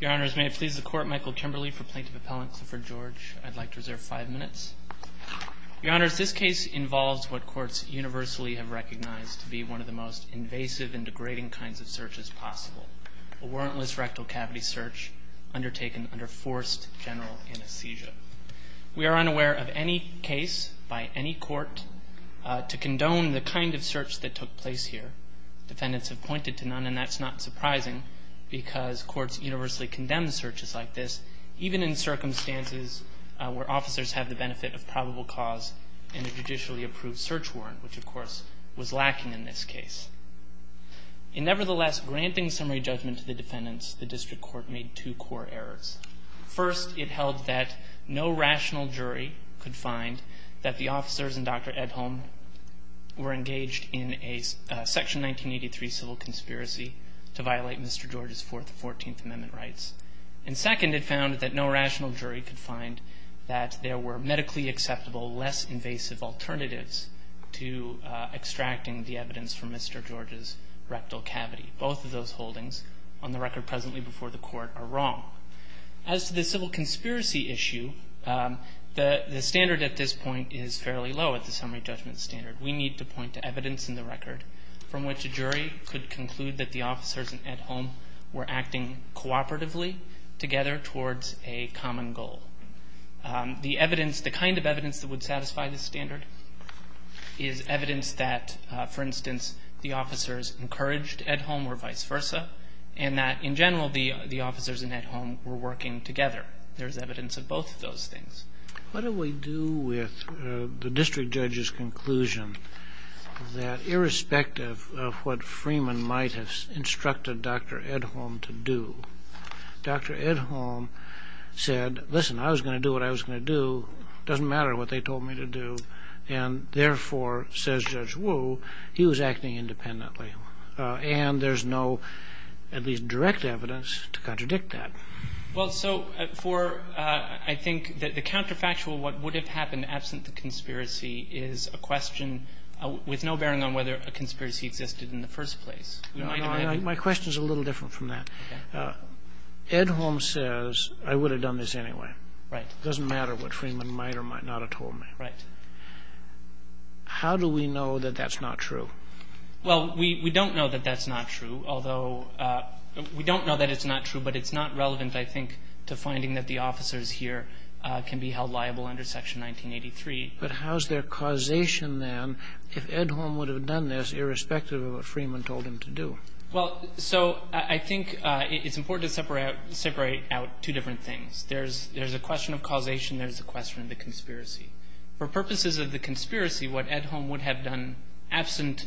Your Honours, may it please the Court, Michael Kimberley for Plaintiff Appellant Clifford George. I'd like to reserve five minutes. Your Honours, this case involves what courts universally have recognized to be one of the most invasive and degrading kinds of searches possible. A warrantless rectal cavity search undertaken under forced general anesthesia. We are unaware of any case by any court to condone the kind of search that took place here. Defendants have pointed to none, and that's not surprising because courts universally condemn searches like this, even in circumstances where officers have the benefit of probable cause in a judicially approved search warrant, which of course was lacking in this case. Nevertheless, granting summary judgment to the defendants, the District Court made two core errors. First, it held that no rational jury could find that the officers in Dr. Edholm were engaged in a Section 1983 civil conspiracy to violate Mr. George's Fourth and Fourteenth Amendment rights. And second, it found that no rational jury could find that there were medically acceptable, less invasive alternatives to extracting the evidence from Mr. George's rectal cavity. Both of those holdings on the record presently before the Court are wrong. As to the civil conspiracy issue, the standard at this point is fairly low at the summary judgment standard. We need to point to evidence in the record from which a jury could conclude that the officers in Edholm were acting cooperatively together towards a common goal. The evidence, the kind of evidence that would satisfy this standard is evidence that, for instance, the officers encouraged Edholm or vice versa, and that, in general, the officers in Edholm were working together. There's evidence of both of those things. What do we do with the district judge's conclusion that, irrespective of what Freeman might have instructed Dr. Edholm to do, Dr. Edholm said, listen, I was going to do what I was going to do. It doesn't matter what they told me to do. And, therefore, says Judge Wu, he was acting independently. And there's no, at least, direct evidence to contradict that. Well, so for I think the counterfactual, what would have happened absent the conspiracy, is a question with no bearing on whether a conspiracy existed in the first place. My question is a little different from that. Edholm says, I would have done this anyway. Right. It doesn't matter what Freeman might or might not have told me. Right. How do we know that that's not true? Well, we don't know that that's not true, although we don't know that it's not true, but it's not relevant, I think, to finding that the officers here can be held liable under Section 1983. But how's their causation, then, if Edholm would have done this, irrespective of what Freeman told him to do? Well, so I think it's important to separate out two different things. There's a question of causation. There's a question of the conspiracy. For purposes of the conspiracy, what Edholm would have done absent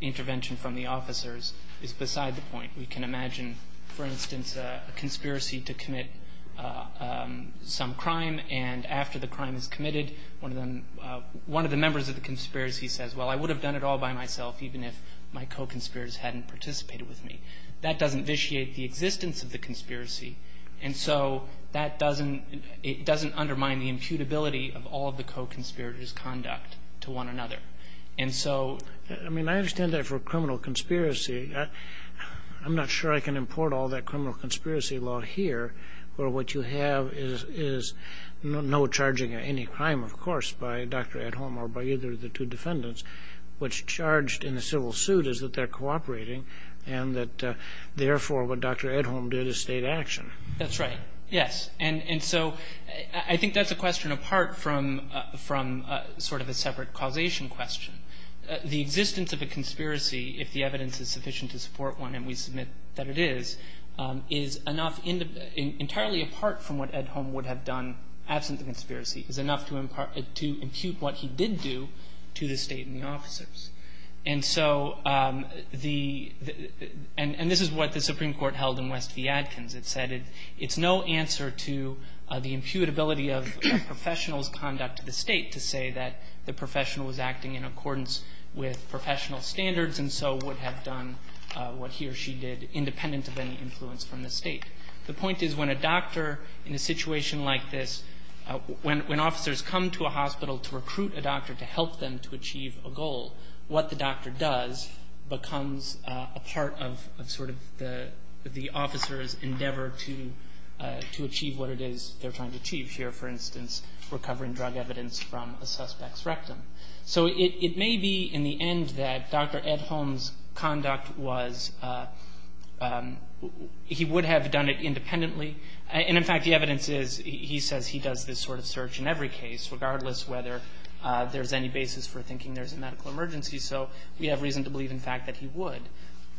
intervention from the officers is beside the point. We can imagine, for instance, a conspiracy to commit some crime, and after the crime is committed, one of the members of the conspiracy says, well, I would have done it all by myself, even if my co-conspirators hadn't participated with me. That doesn't vitiate the existence of the conspiracy. And so that doesn't undermine the imputability of all of the co-conspirators' conduct to one another. And so I mean, I understand that for a criminal conspiracy. I'm not sure I can import all that criminal conspiracy law here, where what you have is no charging of any crime, of course, by Dr. Edholm or by either of the two defendants. What's charged in the civil suit is that they're cooperating, and that, therefore, what Dr. Edholm did is state action. That's right. Yes. And so I think that's a question apart from sort of a separate causation question. The existence of a conspiracy, if the evidence is sufficient to support one, and we submit that it is, is enough entirely apart from what Edholm would have done absent the conspiracy, is enough to impute what he did do to the State and the officers. And so the – and this is what the Supreme Court held in West v. Adkins. It said it's no answer to the imputability of a professional's conduct to the State to say that the professional was acting in accordance with professional standards and so would have done what he or she did independent of any influence from the State. The point is when a doctor in a situation like this – when officers come to a hospital to recruit a doctor to help them to achieve a goal, what the doctor does becomes a part of sort of the officer's endeavor to achieve what it is they're trying to achieve. Here, for instance, recovering drug evidence from a suspect's rectum. So it may be, in the end, that Dr. Edholm's conduct was – he would have done it independently. And, in fact, the evidence is he says he does this sort of search in every case, regardless whether there's any basis for thinking there's a medical emergency. So we have reason to believe, in fact, that he would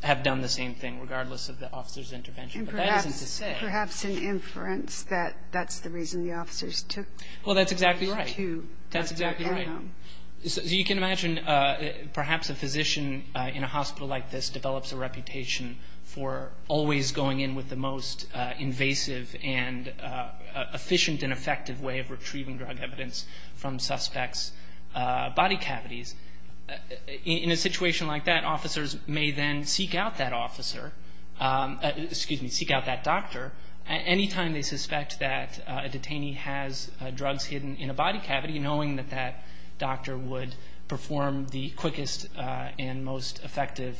have done the same thing, regardless of the officer's intervention. But that isn't to say – And perhaps in inference that that's the reason the officers took – Well, that's exactly right. To Dr. Edholm. That's exactly right. So you can imagine perhaps a physician in a hospital like this develops a reputation for always going in with the most invasive and efficient and effective way of retrieving drug evidence from suspects' body cavities. In a situation like that, officers may then seek out that officer – excuse me, seek out that doctor anytime they suspect that a detainee has drugs hidden in a body cavity, knowing that that doctor would perform the quickest and most effective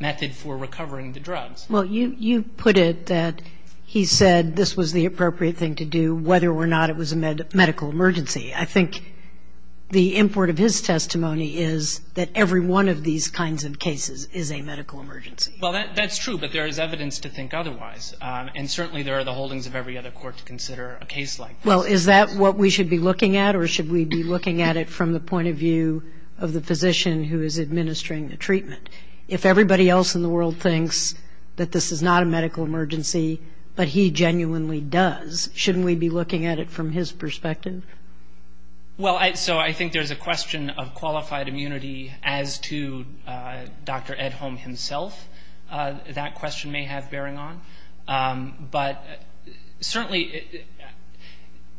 method for recovering the drugs. Well, you put it that he said this was the appropriate thing to do, whether or not it was a medical emergency. I think the import of his testimony is that every one of these kinds of cases is a medical emergency. Well, that's true, but there is evidence to think otherwise. And certainly there are the holdings of every other court to consider a case like this. Well, is that what we should be looking at, or should we be looking at it from the point of view of the physician who is administering the treatment? If everybody else in the world thinks that this is not a medical emergency, but he genuinely does, shouldn't we be looking at it from his perspective? Well, so I think there's a question of qualified immunity as to Dr. Edholm himself. That question may have bearing on. But certainly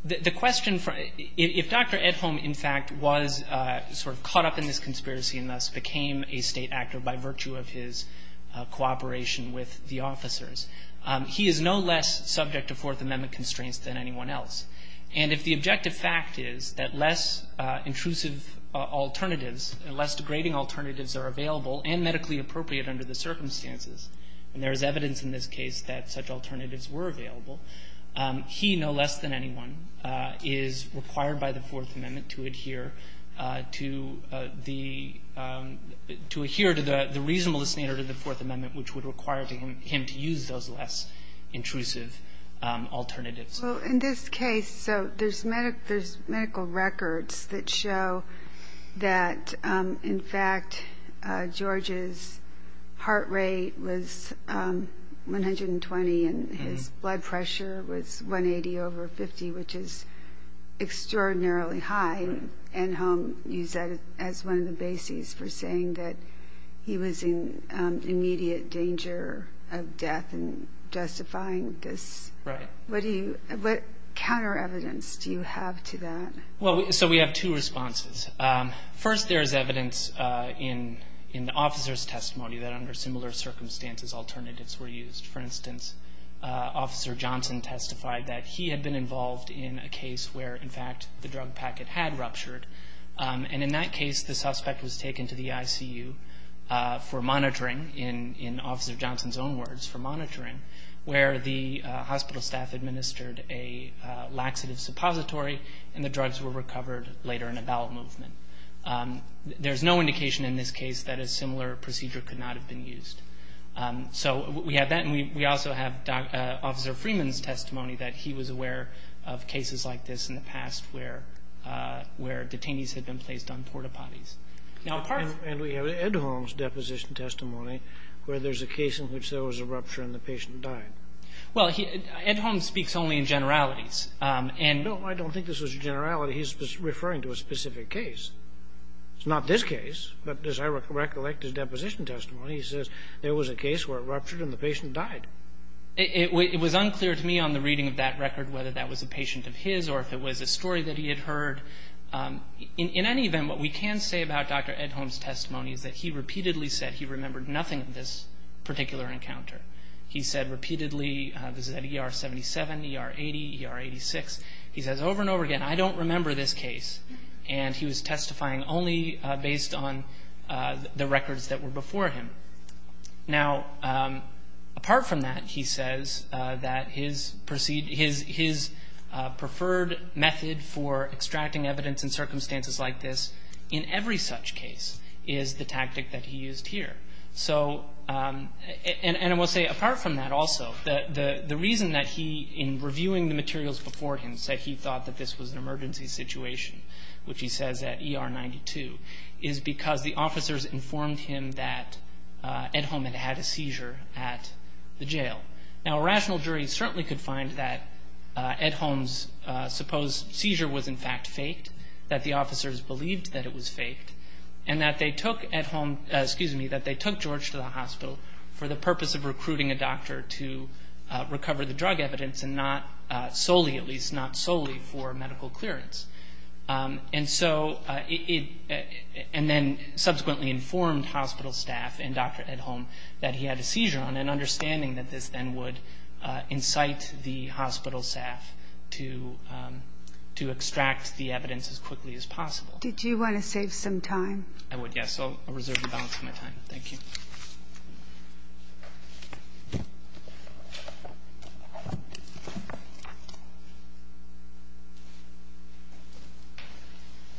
the question – if Dr. Edholm, in fact, was sort of caught up in this conspiracy and thus became a state actor by virtue of his cooperation with the officers, he is no less subject to Fourth Amendment constraints than anyone else. And if the objective fact is that less intrusive alternatives, less degrading alternatives are available and medically appropriate under the circumstances, and there is evidence in this case that such alternatives were available, he, no less than anyone, is required by the Fourth Amendment to adhere to the – to those less intrusive alternatives. Well, in this case – so there's medical records that show that, in fact, George's heart rate was 120 and his blood pressure was 180 over 50, which is extraordinarily high. Edholm used that as one of the bases for saying that he was in immediate danger of death and justifying this. Right. What do you – what counter-evidence do you have to that? Well, so we have two responses. First, there is evidence in the officer's testimony that under similar circumstances alternatives were used. For instance, Officer Johnson testified that he had been involved in a case where, in fact, the drug packet had ruptured. And in that case, the suspect was taken to the ICU for monitoring, in Officer Johnson's own words, for monitoring, where the hospital staff administered a laxative suppository and the drugs were recovered later in a bowel movement. There's no indication in this case that a similar procedure could not have been used. So we have that, and we also have Officer Freeman's testimony that he was aware of cases like this in the past where detainees had been placed on porta potties. And we have Edholm's deposition testimony where there's a case in which there was a rupture and the patient died. Well, Edholm speaks only in generalities. No, I don't think this was a generality. He's referring to a specific case. It's not this case, but as I recollect his deposition testimony, he says there was a case where it ruptured and the patient died. It was unclear to me on the reading of that record whether that was a patient of his or if it was a story that he had heard. In any event, what we can say about Dr. Edholm's testimony is that he repeatedly said he remembered nothing of this particular encounter. He said repeatedly, this is at ER 77, ER 80, ER 86, he says over and over again, I don't remember this case. And he was testifying only based on the records that were before him. Now, apart from that, he says that his preferred method for extracting evidence in circumstances like this, in every such case, is the tactic that he used here. And I will say, apart from that also, the reason that he, in reviewing the materials before him, said he thought that this was an emergency situation, which he says at ER 92, is because the officers informed him that Edholm had had a seizure at the jail. Now, a rational jury certainly could find that Edholm's supposed seizure was in fact faked, that the officers believed that it was faked, and that they took Edholm, excuse me, that they took George to the hospital for the purpose of recruiting a doctor to recover the drug evidence and not solely, at least not solely, for medical clearance. And then subsequently informed hospital staff and Dr. Edholm that he had a seizure on, and understanding that this then would incite the hospital staff to extract the evidence as quickly as possible. Did you want to save some time? I would, yes. I'll reserve the balance of my time. Thank you.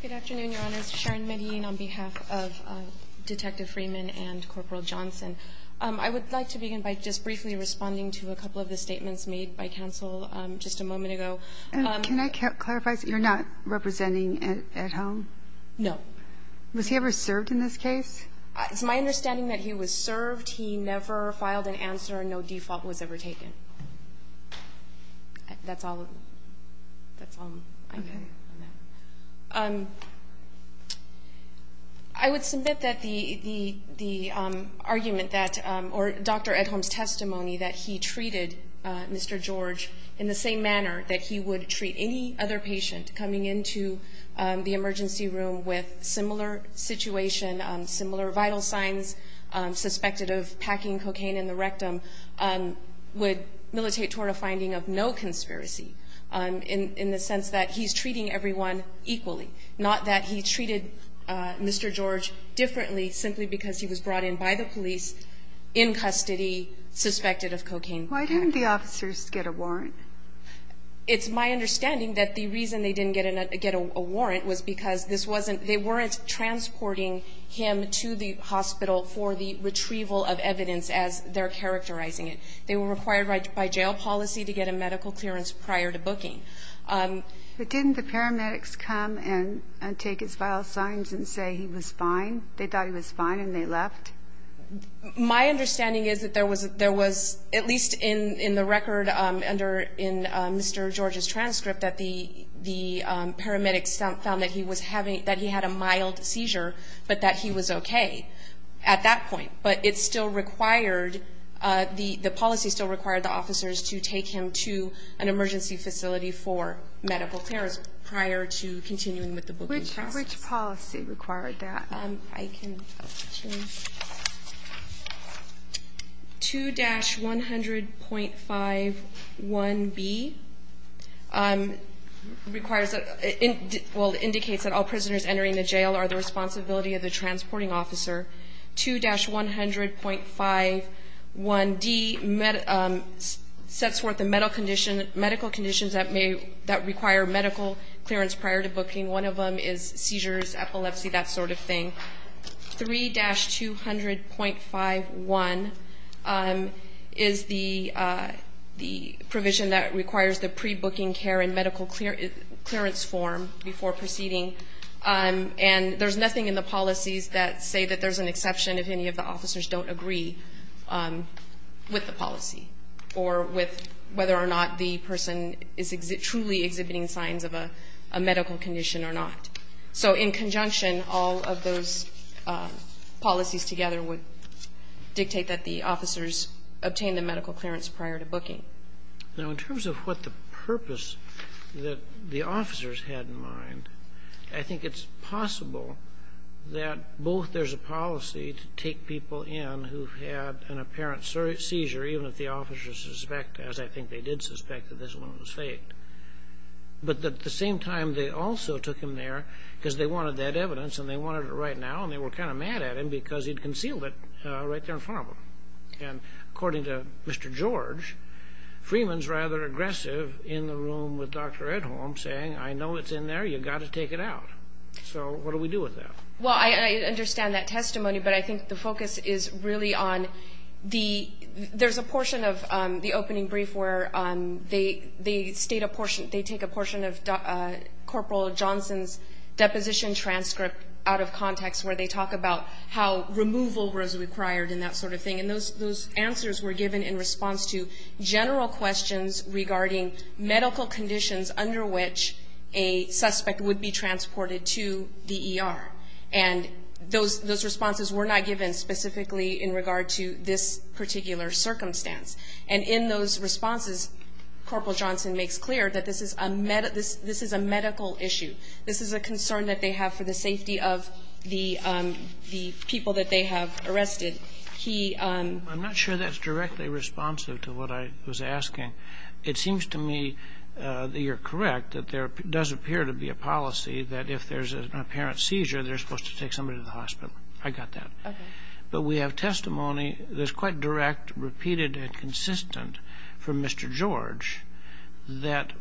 Good afternoon, Your Honors. Sharon Medine on behalf of Detective Freeman and Corporal Johnson. I would like to begin by just briefly responding to a couple of the statements made by counsel just a moment ago. Can I clarify? You're not representing Edholm? No. Was he ever served in this case? It's my understanding that he was served. He never filed an answer. No default was ever taken. That's all. That's all I know. Okay. I would submit that the argument that, or Dr. Edholm's testimony, that he treated Mr. George in the same manner that he would treat any other patient coming into the emergency room with similar situation, similar vital signs, suspected of packing cocaine in the rectum, would militate toward a finding of no conspiracy, in the sense that he's treating everyone equally, not that he treated Mr. George differently simply because he was brought in by the police in custody, suspected of cocaine. Why didn't the officers get a warrant? It's my understanding that the reason they didn't get a warrant was because this wasn't, they weren't transporting him to the hospital for the retrieval of evidence as they're characterizing it. They were required by jail policy to get a medical clearance prior to booking. But didn't the paramedics come and take his vital signs and say he was fine? They thought he was fine and they left? My understanding is that there was, at least in the record under Mr. George's transcript, that the paramedics found that he was having, that he had a mild seizure, but that he was okay at that point. But it still required, the policy still required the officers to take him to an emergency facility for medical clearance prior to continuing with the booking process. Which policy required that? I can change. 2-100.51b requires, well, indicates that all prisoners entering the jail are the responsibility of the transporting officer. 2-100.51d sets forth the medical condition, medical conditions that may, that require medical clearance prior to booking. One of them is seizures, epilepsy, that sort of thing. 3-200.51 is the provision that requires the pre-booking care and medical clearance form before proceeding. And there's nothing in the policies that say that there's an exception if any of the officers don't agree with the policy or with whether or not the person is truly exhibiting signs of a medical condition or not. So in conjunction, all of those policies together would dictate that the officers obtain the medical clearance prior to booking. Now, in terms of what the purpose that the officers had in mind, I think it's possible that both there's a policy to take people in who had an apparent seizure, even if the officers suspect, as I think they did suspect that this one was faked. But at the same time, they also took him there because they wanted that evidence and they wanted it right now, and they were kind of mad at him because he'd concealed it right there in front of them. And according to Mr. George, Freeman's rather aggressive in the room with Dr. Edholm saying, I know it's in there. You've got to take it out. So what do we do with that? Well, I understand that testimony, but I think the focus is really on the – there's a portion of the opening brief where they state a portion – they take a portion of Corporal Johnson's deposition transcript out of context where they talk about how removal was required and that sort of thing. And those answers were given in response to general questions regarding medical conditions under which a suspect would be transported to the ER. And those responses were not given specifically in regard to this particular circumstance. And in those responses, Corporal Johnson makes clear that this is a medical issue. This is a concern that they have for the safety of the people that they have arrested. He – I'm not sure that's directly responsive to what I was asking. It seems to me that you're correct, that there does appear to be a policy that if there's an apparent seizure, they're supposed to take somebody to the hospital. I got that. Okay. But we have testimony that's quite direct, repeated, and consistent from Mr. George that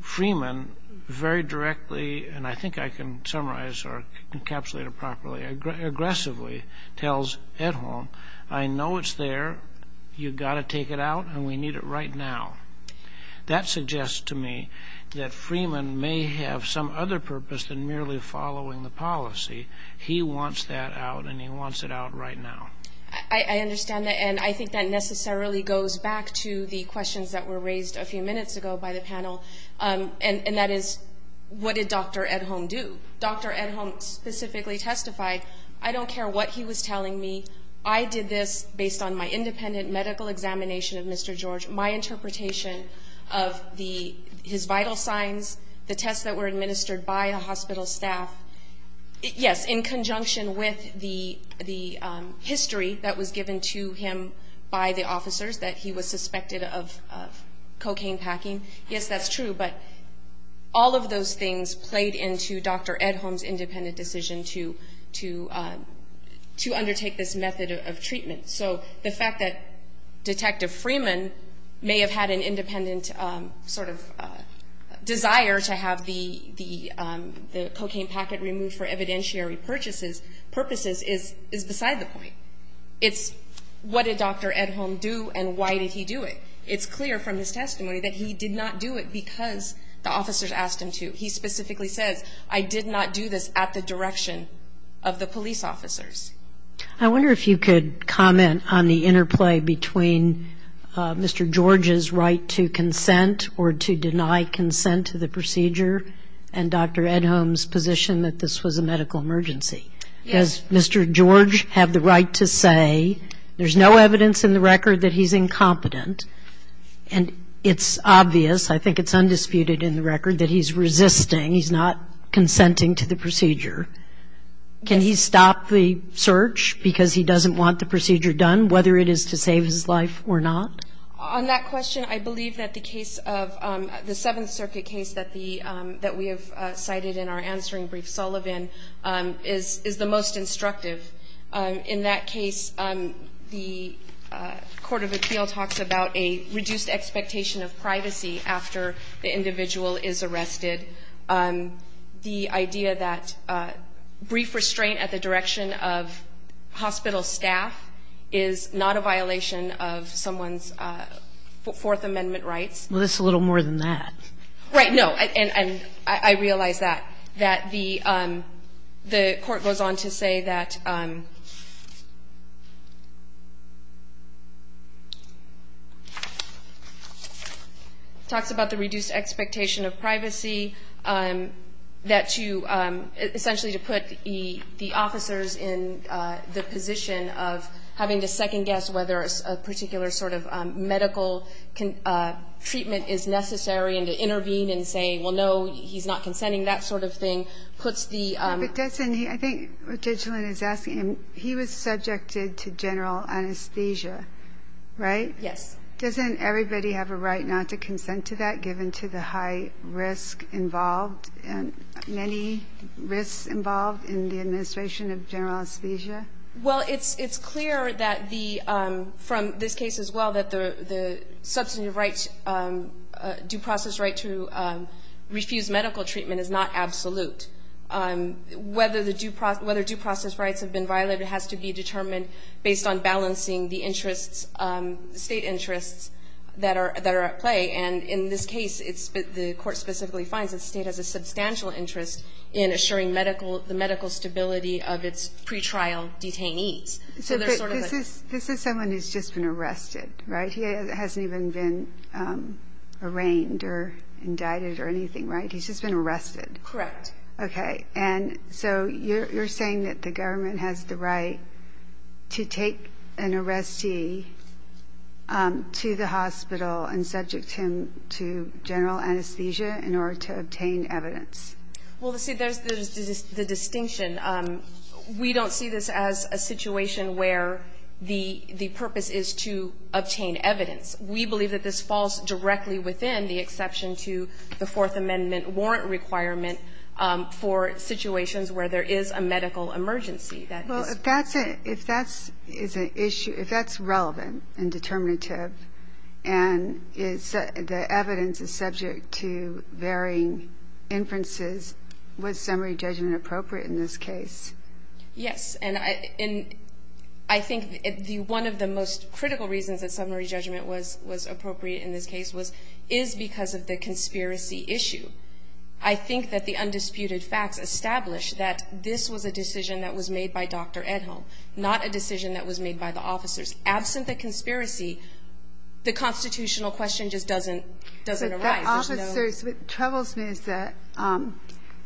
Freeman very directly – and I think I can summarize or encapsulate it properly – aggressively tells Edholm, I know it's there, you've got to take it out, and we need it right now. That suggests to me that Freeman may have some other purpose than merely following the policy. He wants that out, and he wants it out right now. I understand that, and I think that necessarily goes back to the questions that were raised a few minutes ago by the panel, and that is, what did Dr. Edholm do? Dr. Edholm specifically testified, I don't care what he was telling me, I did this based on my independent medical examination of Mr. George, my interpretation of his vital signs, the tests that were administered by the hospital staff, yes, in conjunction with the history that was given to him by the officers that he was suspected of cocaine packing. Yes, that's true, but all of those things played into Dr. Edholm's independent decision to undertake this method of treatment. So the fact that Detective Freeman may have had an independent sort of desire to have the cocaine packet removed for evidentiary purposes is beside the point. It's what did Dr. Edholm do, and why did he do it? It's clear from his testimony that he did not do it because the officers asked him to. He specifically says, I did not do this at the direction of the police officers. I wonder if you could comment on the interplay between Mr. George's right to consent or to deny consent to the procedure and Dr. Edholm's position that this was a medical emergency. Does Mr. George have the right to say there's no evidence in the record that he's incompetent, and it's obvious, I think it's undisputed in the record, that he's resisting, he's not consenting to the procedure. Can he stop the search because he doesn't want the procedure done, whether it is to save his life or not? On that question, I believe that the case of the Seventh Circuit case that we have cited in our answering brief, Sullivan, is the most instructive. In that case, the court of appeal talks about a reduced expectation of privacy after the individual is arrested. The idea that brief restraint at the direction of hospital staff is not a violation of someone's Fourth Amendment rights. Well, it's a little more than that. Right. No. And I realize that, that the court goes on to say that talks about the reduced expectation of privacy, that to essentially to put the officers in the position of having to second guess whether a particular sort of medical treatment is necessary and to intervene and say, well, no, he's not consenting, that sort of thing, puts the But doesn't he, I think what Judge Sullivan is asking, he was subjected to general anesthesia, right? Yes. Doesn't everybody have a right not to consent to that given to the high risk involved and many risks involved in the administration of general anesthesia? Well, it's clear that the, from this case as well, that the substantive rights, due process right to refuse medical treatment is not absolute. Whether the due process rights have been violated has to be determined based on balancing the interests, State interests that are at play. And in this case, it's, the court specifically finds that State has a substantial interest in assuring medical, the medical stability of its pretrial detainees. So there's sort of a This is someone who's just been arrested, right? He hasn't even been arraigned or indicted or anything, right? He's just been arrested. Correct. Okay. And so you're saying that the government has the right to take an arrestee to the hospital and subject him to general anesthesia in order to obtain evidence? Well, see, there's the distinction. We don't see this as a situation where the purpose is to obtain evidence. We believe that this falls directly within the exception to the Fourth Amendment warrant requirement for situations where there is a medical emergency. Well, if that's a, if that's, is an issue, if that's relevant and determinative and is, the evidence is subject to varying inferences, was summary judgment appropriate in this case? Yes. And I think one of the most critical reasons that summary judgment was appropriate in this case was, is because of the conspiracy issue. I think that the undisputed facts establish that this was a decision that was made by Dr. Edholm, not a decision that was made by the officers. Absent the conspiracy, the constitutional question just doesn't arise. The officers, what troubles me is that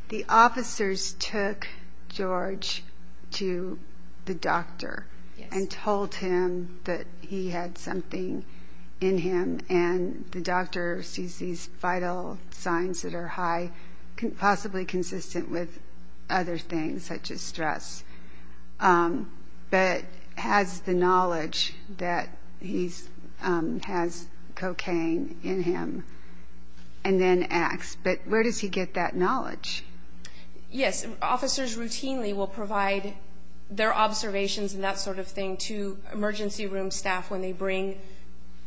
the officers took George to the doctor and told him that he had something in him, and the doctor sees these vital signs that are high, possibly consistent with other things such as stress, but has the knowledge that he's, has cocaine in him, and then asks, but where does he get that knowledge? Yes. Officers routinely will provide their observations and that sort of thing to emergency room staff when they bring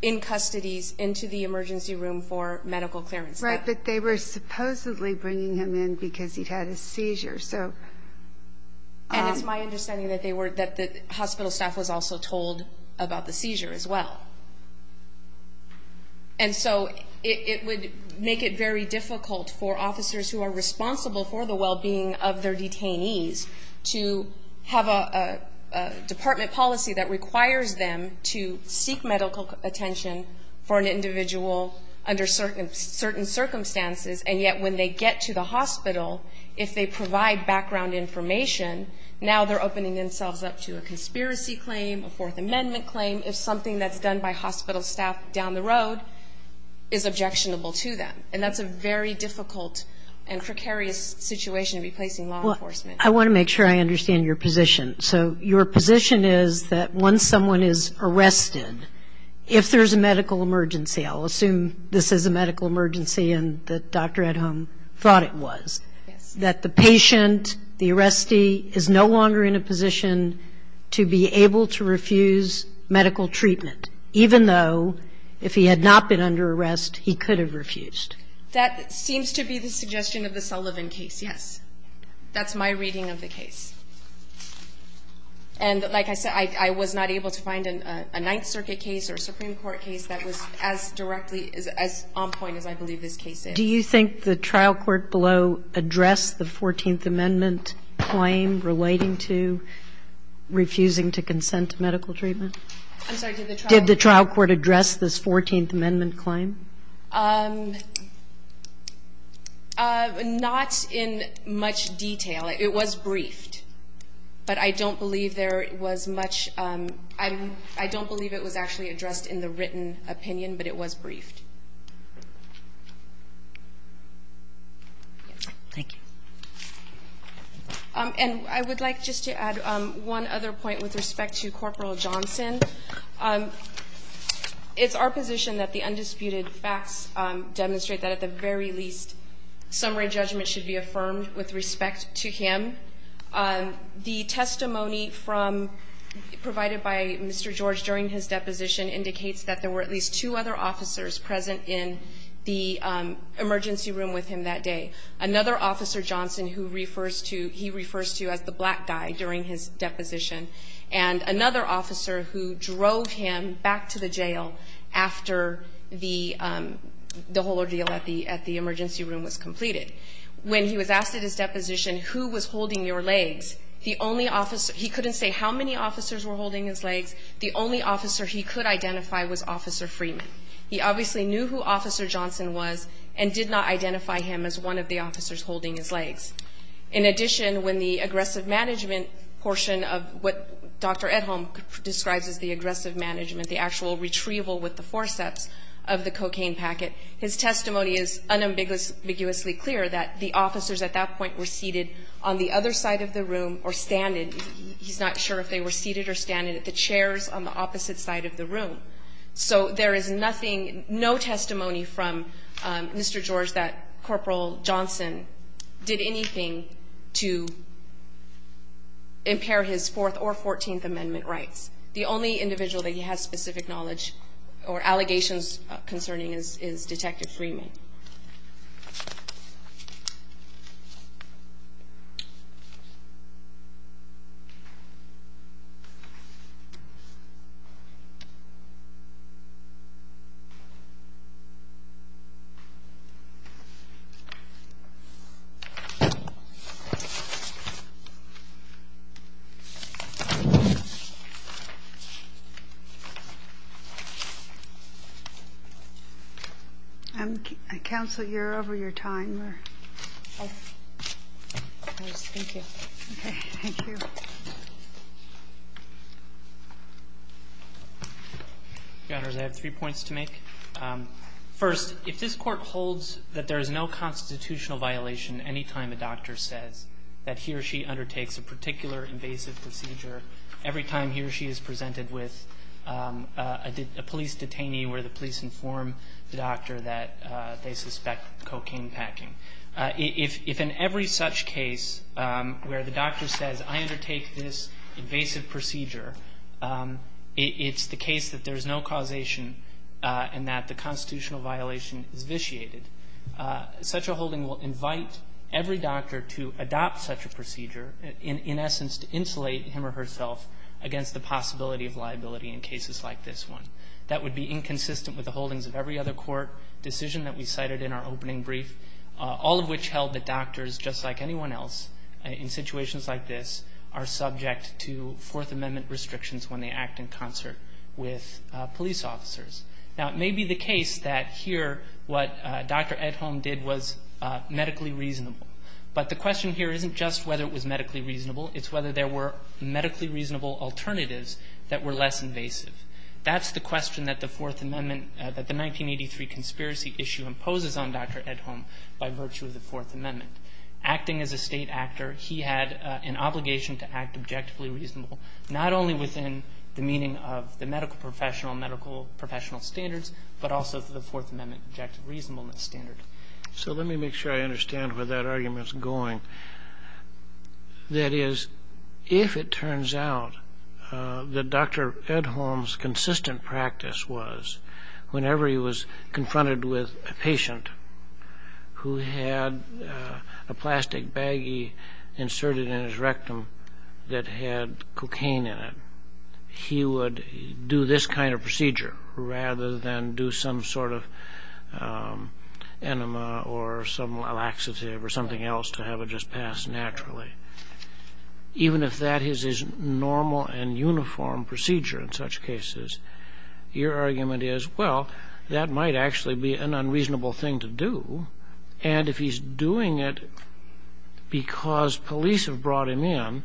in custodies into the emergency room for medical clearance. Right. But they were supposedly bringing him in because he'd had a seizure, so. And it's my understanding that they were, that the hospital staff was also told about the seizure as well. And so it would make it very difficult for officers who are responsible for the well-being of their detainees to have a department policy that requires them to seek medical attention for an individual under certain circumstances, and yet when they get to the hospital, if they provide background information, now they're opening themselves up to a conspiracy claim, a Fourth Amendment claim, if something that's done by hospital staff down the road is objectionable to them. And that's a very difficult and precarious situation in replacing law enforcement. I want to make sure I understand your position. So your position is that once someone is arrested, if there's a medical emergency, I'll assume this is a medical emergency and the doctor at home thought it was. Yes. That the patient, the arrestee, is no longer in a position to be able to refuse medical treatment, even though if he had not been under arrest, he could have refused. That seems to be the suggestion of the Sullivan case, yes. That's my reading of the case. And like I said, I was not able to find a Ninth Circuit case or a Supreme Court case that was as directly as on point as I believe this case is. Do you think the trial court below addressed the 14th Amendment claim relating to refusing to consent to medical treatment? I'm sorry, did the trial court address this 14th Amendment claim? Not in much detail. It was briefed, but I don't believe there was much. I don't believe it was actually addressed in the written opinion, but it was briefed. Thank you. And I would like just to add one other point with respect to Corporal Johnson. It's our position that the undisputed facts demonstrate that at the very least, summary judgment should be affirmed with respect to him. The testimony provided by Mr. George during his deposition indicates that there were at least two other officers present in the emergency room with him that day. Another officer, Johnson, who he refers to as the black guy during his deposition, and another officer who drove him back to the jail after the whole ordeal at the emergency room was completed. When he was asked at his deposition who was holding your legs, the only officer, he couldn't say how many officers were holding his legs, the only officer he could identify was Officer Freeman. He obviously knew who Officer Johnson was and did not identify him as one of the officers holding his legs. In addition, when the aggressive management portion of what Dr. Edholm describes as the aggressive management, the actual retrieval with the forceps of the cocaine packet, his testimony is unambiguously clear that the officers at that point were seated on the other side of the room or standing. He's not sure if they were seated or standing at the chairs on the opposite side of the room. So there is nothing, no testimony from Mr. George that Corporal Johnson did anything to impair his Fourth or Fourteenth Amendment rights. The only individual that he has specific knowledge or allegations concerning is Detective Freeman. Counsel, you're over your time. Thank you. Okay. Thank you. Your Honors, I have three points to make. First, if this Court holds that there is no constitutional violation any time a doctor says that he or she undertakes a particular invasive procedure, every time he or she is present, he or she is presented with a police detainee where the police inform the doctor that they suspect cocaine packing. If in every such case where the doctor says I undertake this invasive procedure, it's the case that there is no causation and that the constitutional violation is vitiated, such a holding will invite every doctor to adopt such a procedure, in essence to insulate him or herself against the possibility of liability in cases like this one. That would be inconsistent with the holdings of every other court decision that we cited in our opening brief, all of which held that doctors, just like anyone else in situations like this, are subject to Fourth Amendment restrictions when they act in concert with police officers. Now, it may be the case that here what Dr. Edholm did was medically reasonable. But the question here isn't just whether it was medically reasonable. It's whether there were medically reasonable alternatives that were less invasive. That's the question that the Fourth Amendment, that the 1983 conspiracy issue imposes on Dr. Edholm by virtue of the Fourth Amendment. Acting as a State actor, he had an obligation to act objectively reasonable, not only within the meaning of the medical professional, medical professional standards, but also the Fourth Amendment objective reasonableness standard. So let me make sure I understand where that argument's going. That is, if it turns out that Dr. Edholm's consistent practice was whenever he was confronted with a patient who had a plastic baggie inserted in his rectum that had cocaine in it, he would do this kind of procedure rather than do some sort of enema or some laxative or something else to have it just pass naturally. Even if that is his normal and uniform procedure in such cases, your argument is, well, that might actually be an unreasonable thing to do. And if he's doing it because police have brought him in,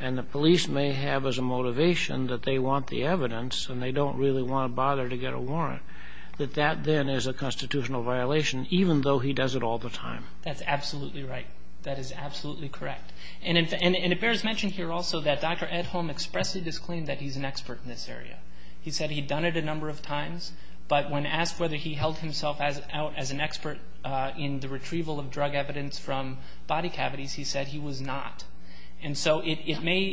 and the police may have as a motivation that they want the evidence and they don't really want to bother to get a warrant, that that then is a constitutional violation, even though he does it all the time. That's absolutely right. That is absolutely correct. And it bears mention here also that Dr. Edholm expressly disclaimed that he's an expert in this area. He said he'd done it a number of times, but when asked whether he held himself out as an expert in the retrieval of drug evidence from body cavities, he said he was not. And so it may,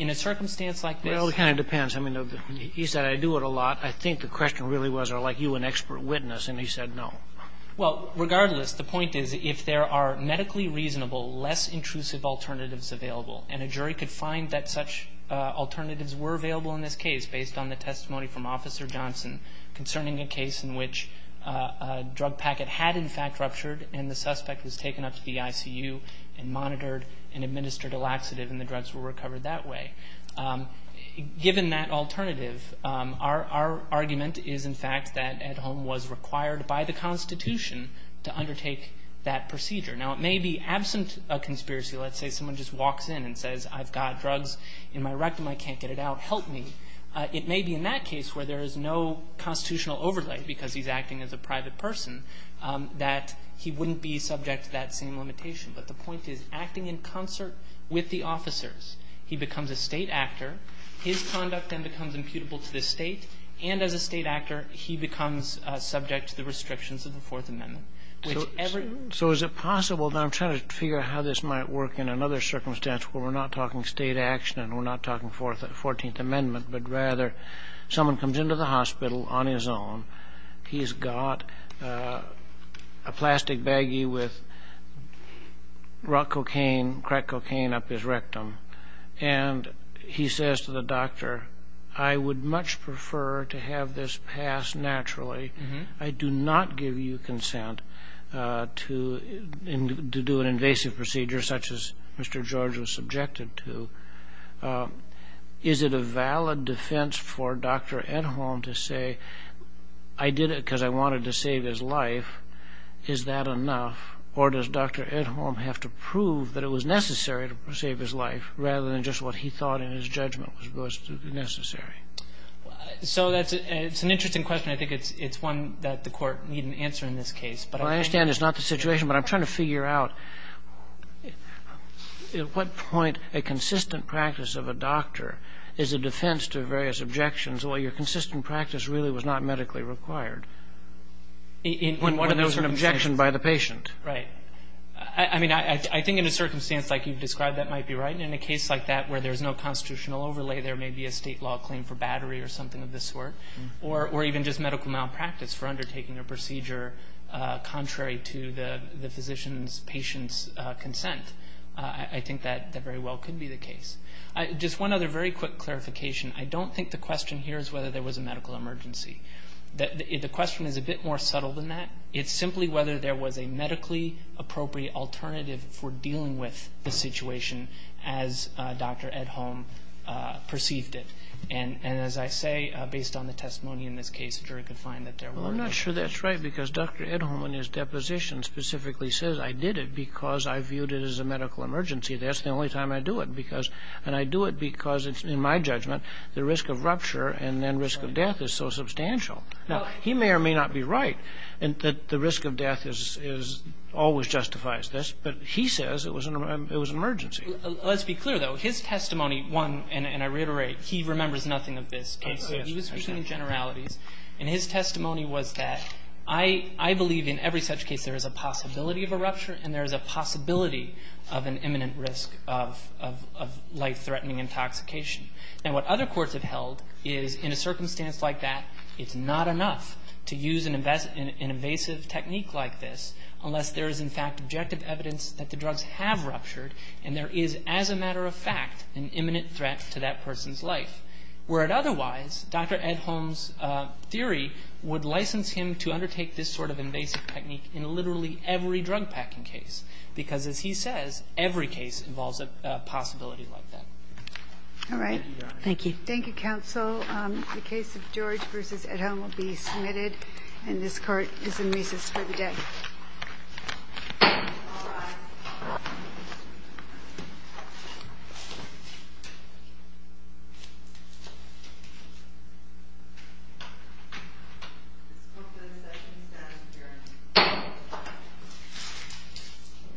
in a circumstance like this ---- It kind of depends. I mean, he said, I do it a lot. I think the question really was, are you an expert witness? And he said no. Well, regardless, the point is if there are medically reasonable, less intrusive alternatives available, and a jury could find that such alternatives were available in this case based on the testimony from Officer Johnson concerning a case in which a drug packet had in fact ruptured and the suspect was taken up to the ICU and monitored and administered a laxative and the drugs were recovered that way, given that alternative, our argument is in fact that Edholm was required by the Constitution to undertake that procedure. Now, it may be absent of conspiracy. Let's say someone just walks in and says, I've got drugs in my rectum. I can't get it out. Help me. It may be in that case where there is no constitutional overlay, because he's acting as a private person, that he wouldn't be subject to that same limitation. But the point is, acting in concert with the officers, he becomes a state actor, his conduct then becomes imputable to the state, and as a state actor, he becomes subject to the restrictions of the Fourth Amendment. So is it possible, and I'm trying to figure out how this might work in another circumstance where we're not talking state action and we're not talking Fourteenth Amendment, but rather someone comes into the hospital on his own, he's got a plastic baggie with crack cocaine up his rectum, and he says to the doctor, I would much prefer to have this pass naturally. I do not give you consent to do an invasive procedure such as Mr. George was subjected to. Is it a valid defense for Dr. Edholm to say I did it because I wanted to save his life? Is that enough? Or does Dr. Edholm have to prove that it was necessary to save his life rather than just what he thought in his judgment was necessary? So that's an interesting question. I think it's one that the Court need an answer in this case. I understand it's not the situation, but I'm trying to figure out At what point a consistent practice of a doctor is a defense to various objections where your consistent practice really was not medically required? When there was an objection by the patient. Right. I mean, I think in a circumstance like you've described, that might be right. And in a case like that where there's no constitutional overlay, there may be a State law claim for battery or something of this sort, or even just medical malpractice for undertaking a procedure contrary to the physician's patient's consent. I think that very well could be the case. Just one other very quick clarification. I don't think the question here is whether there was a medical emergency. The question is a bit more subtle than that. It's simply whether there was a medically appropriate alternative for dealing with the situation as Dr. Edholm perceived it. And as I say, based on the testimony in this case, Well, I'm not sure that's right because Dr. Edholm in his deposition specifically says I did it because I viewed it as a medical emergency. That's the only time I do it. And I do it because it's, in my judgment, the risk of rupture and then risk of death is so substantial. Now, he may or may not be right that the risk of death always justifies this, but he says it was an emergency. Let's be clear, though. His testimony, one, and I reiterate, he remembers nothing of this case. He was speaking in generalities. And his testimony was that I believe in every such case there is a possibility of a rupture and there is a possibility of an imminent risk of life-threatening intoxication. Now, what other courts have held is in a circumstance like that, it's not enough to use an invasive technique like this unless there is, in fact, objective evidence that the drugs have ruptured and there is, as a matter of fact, an imminent threat to that person's life, where it otherwise, Dr. Edholm's theory, would license him to undertake this sort of invasive technique in literally every drug-packing case, because, as he says, every case involves a possibility like that. All right. Thank you, Your Honor. Thank you, counsel. The case of George v. Edholm will be submitted, and this Court is in recess for the day. All rise. This Court is at recess, Your Honor.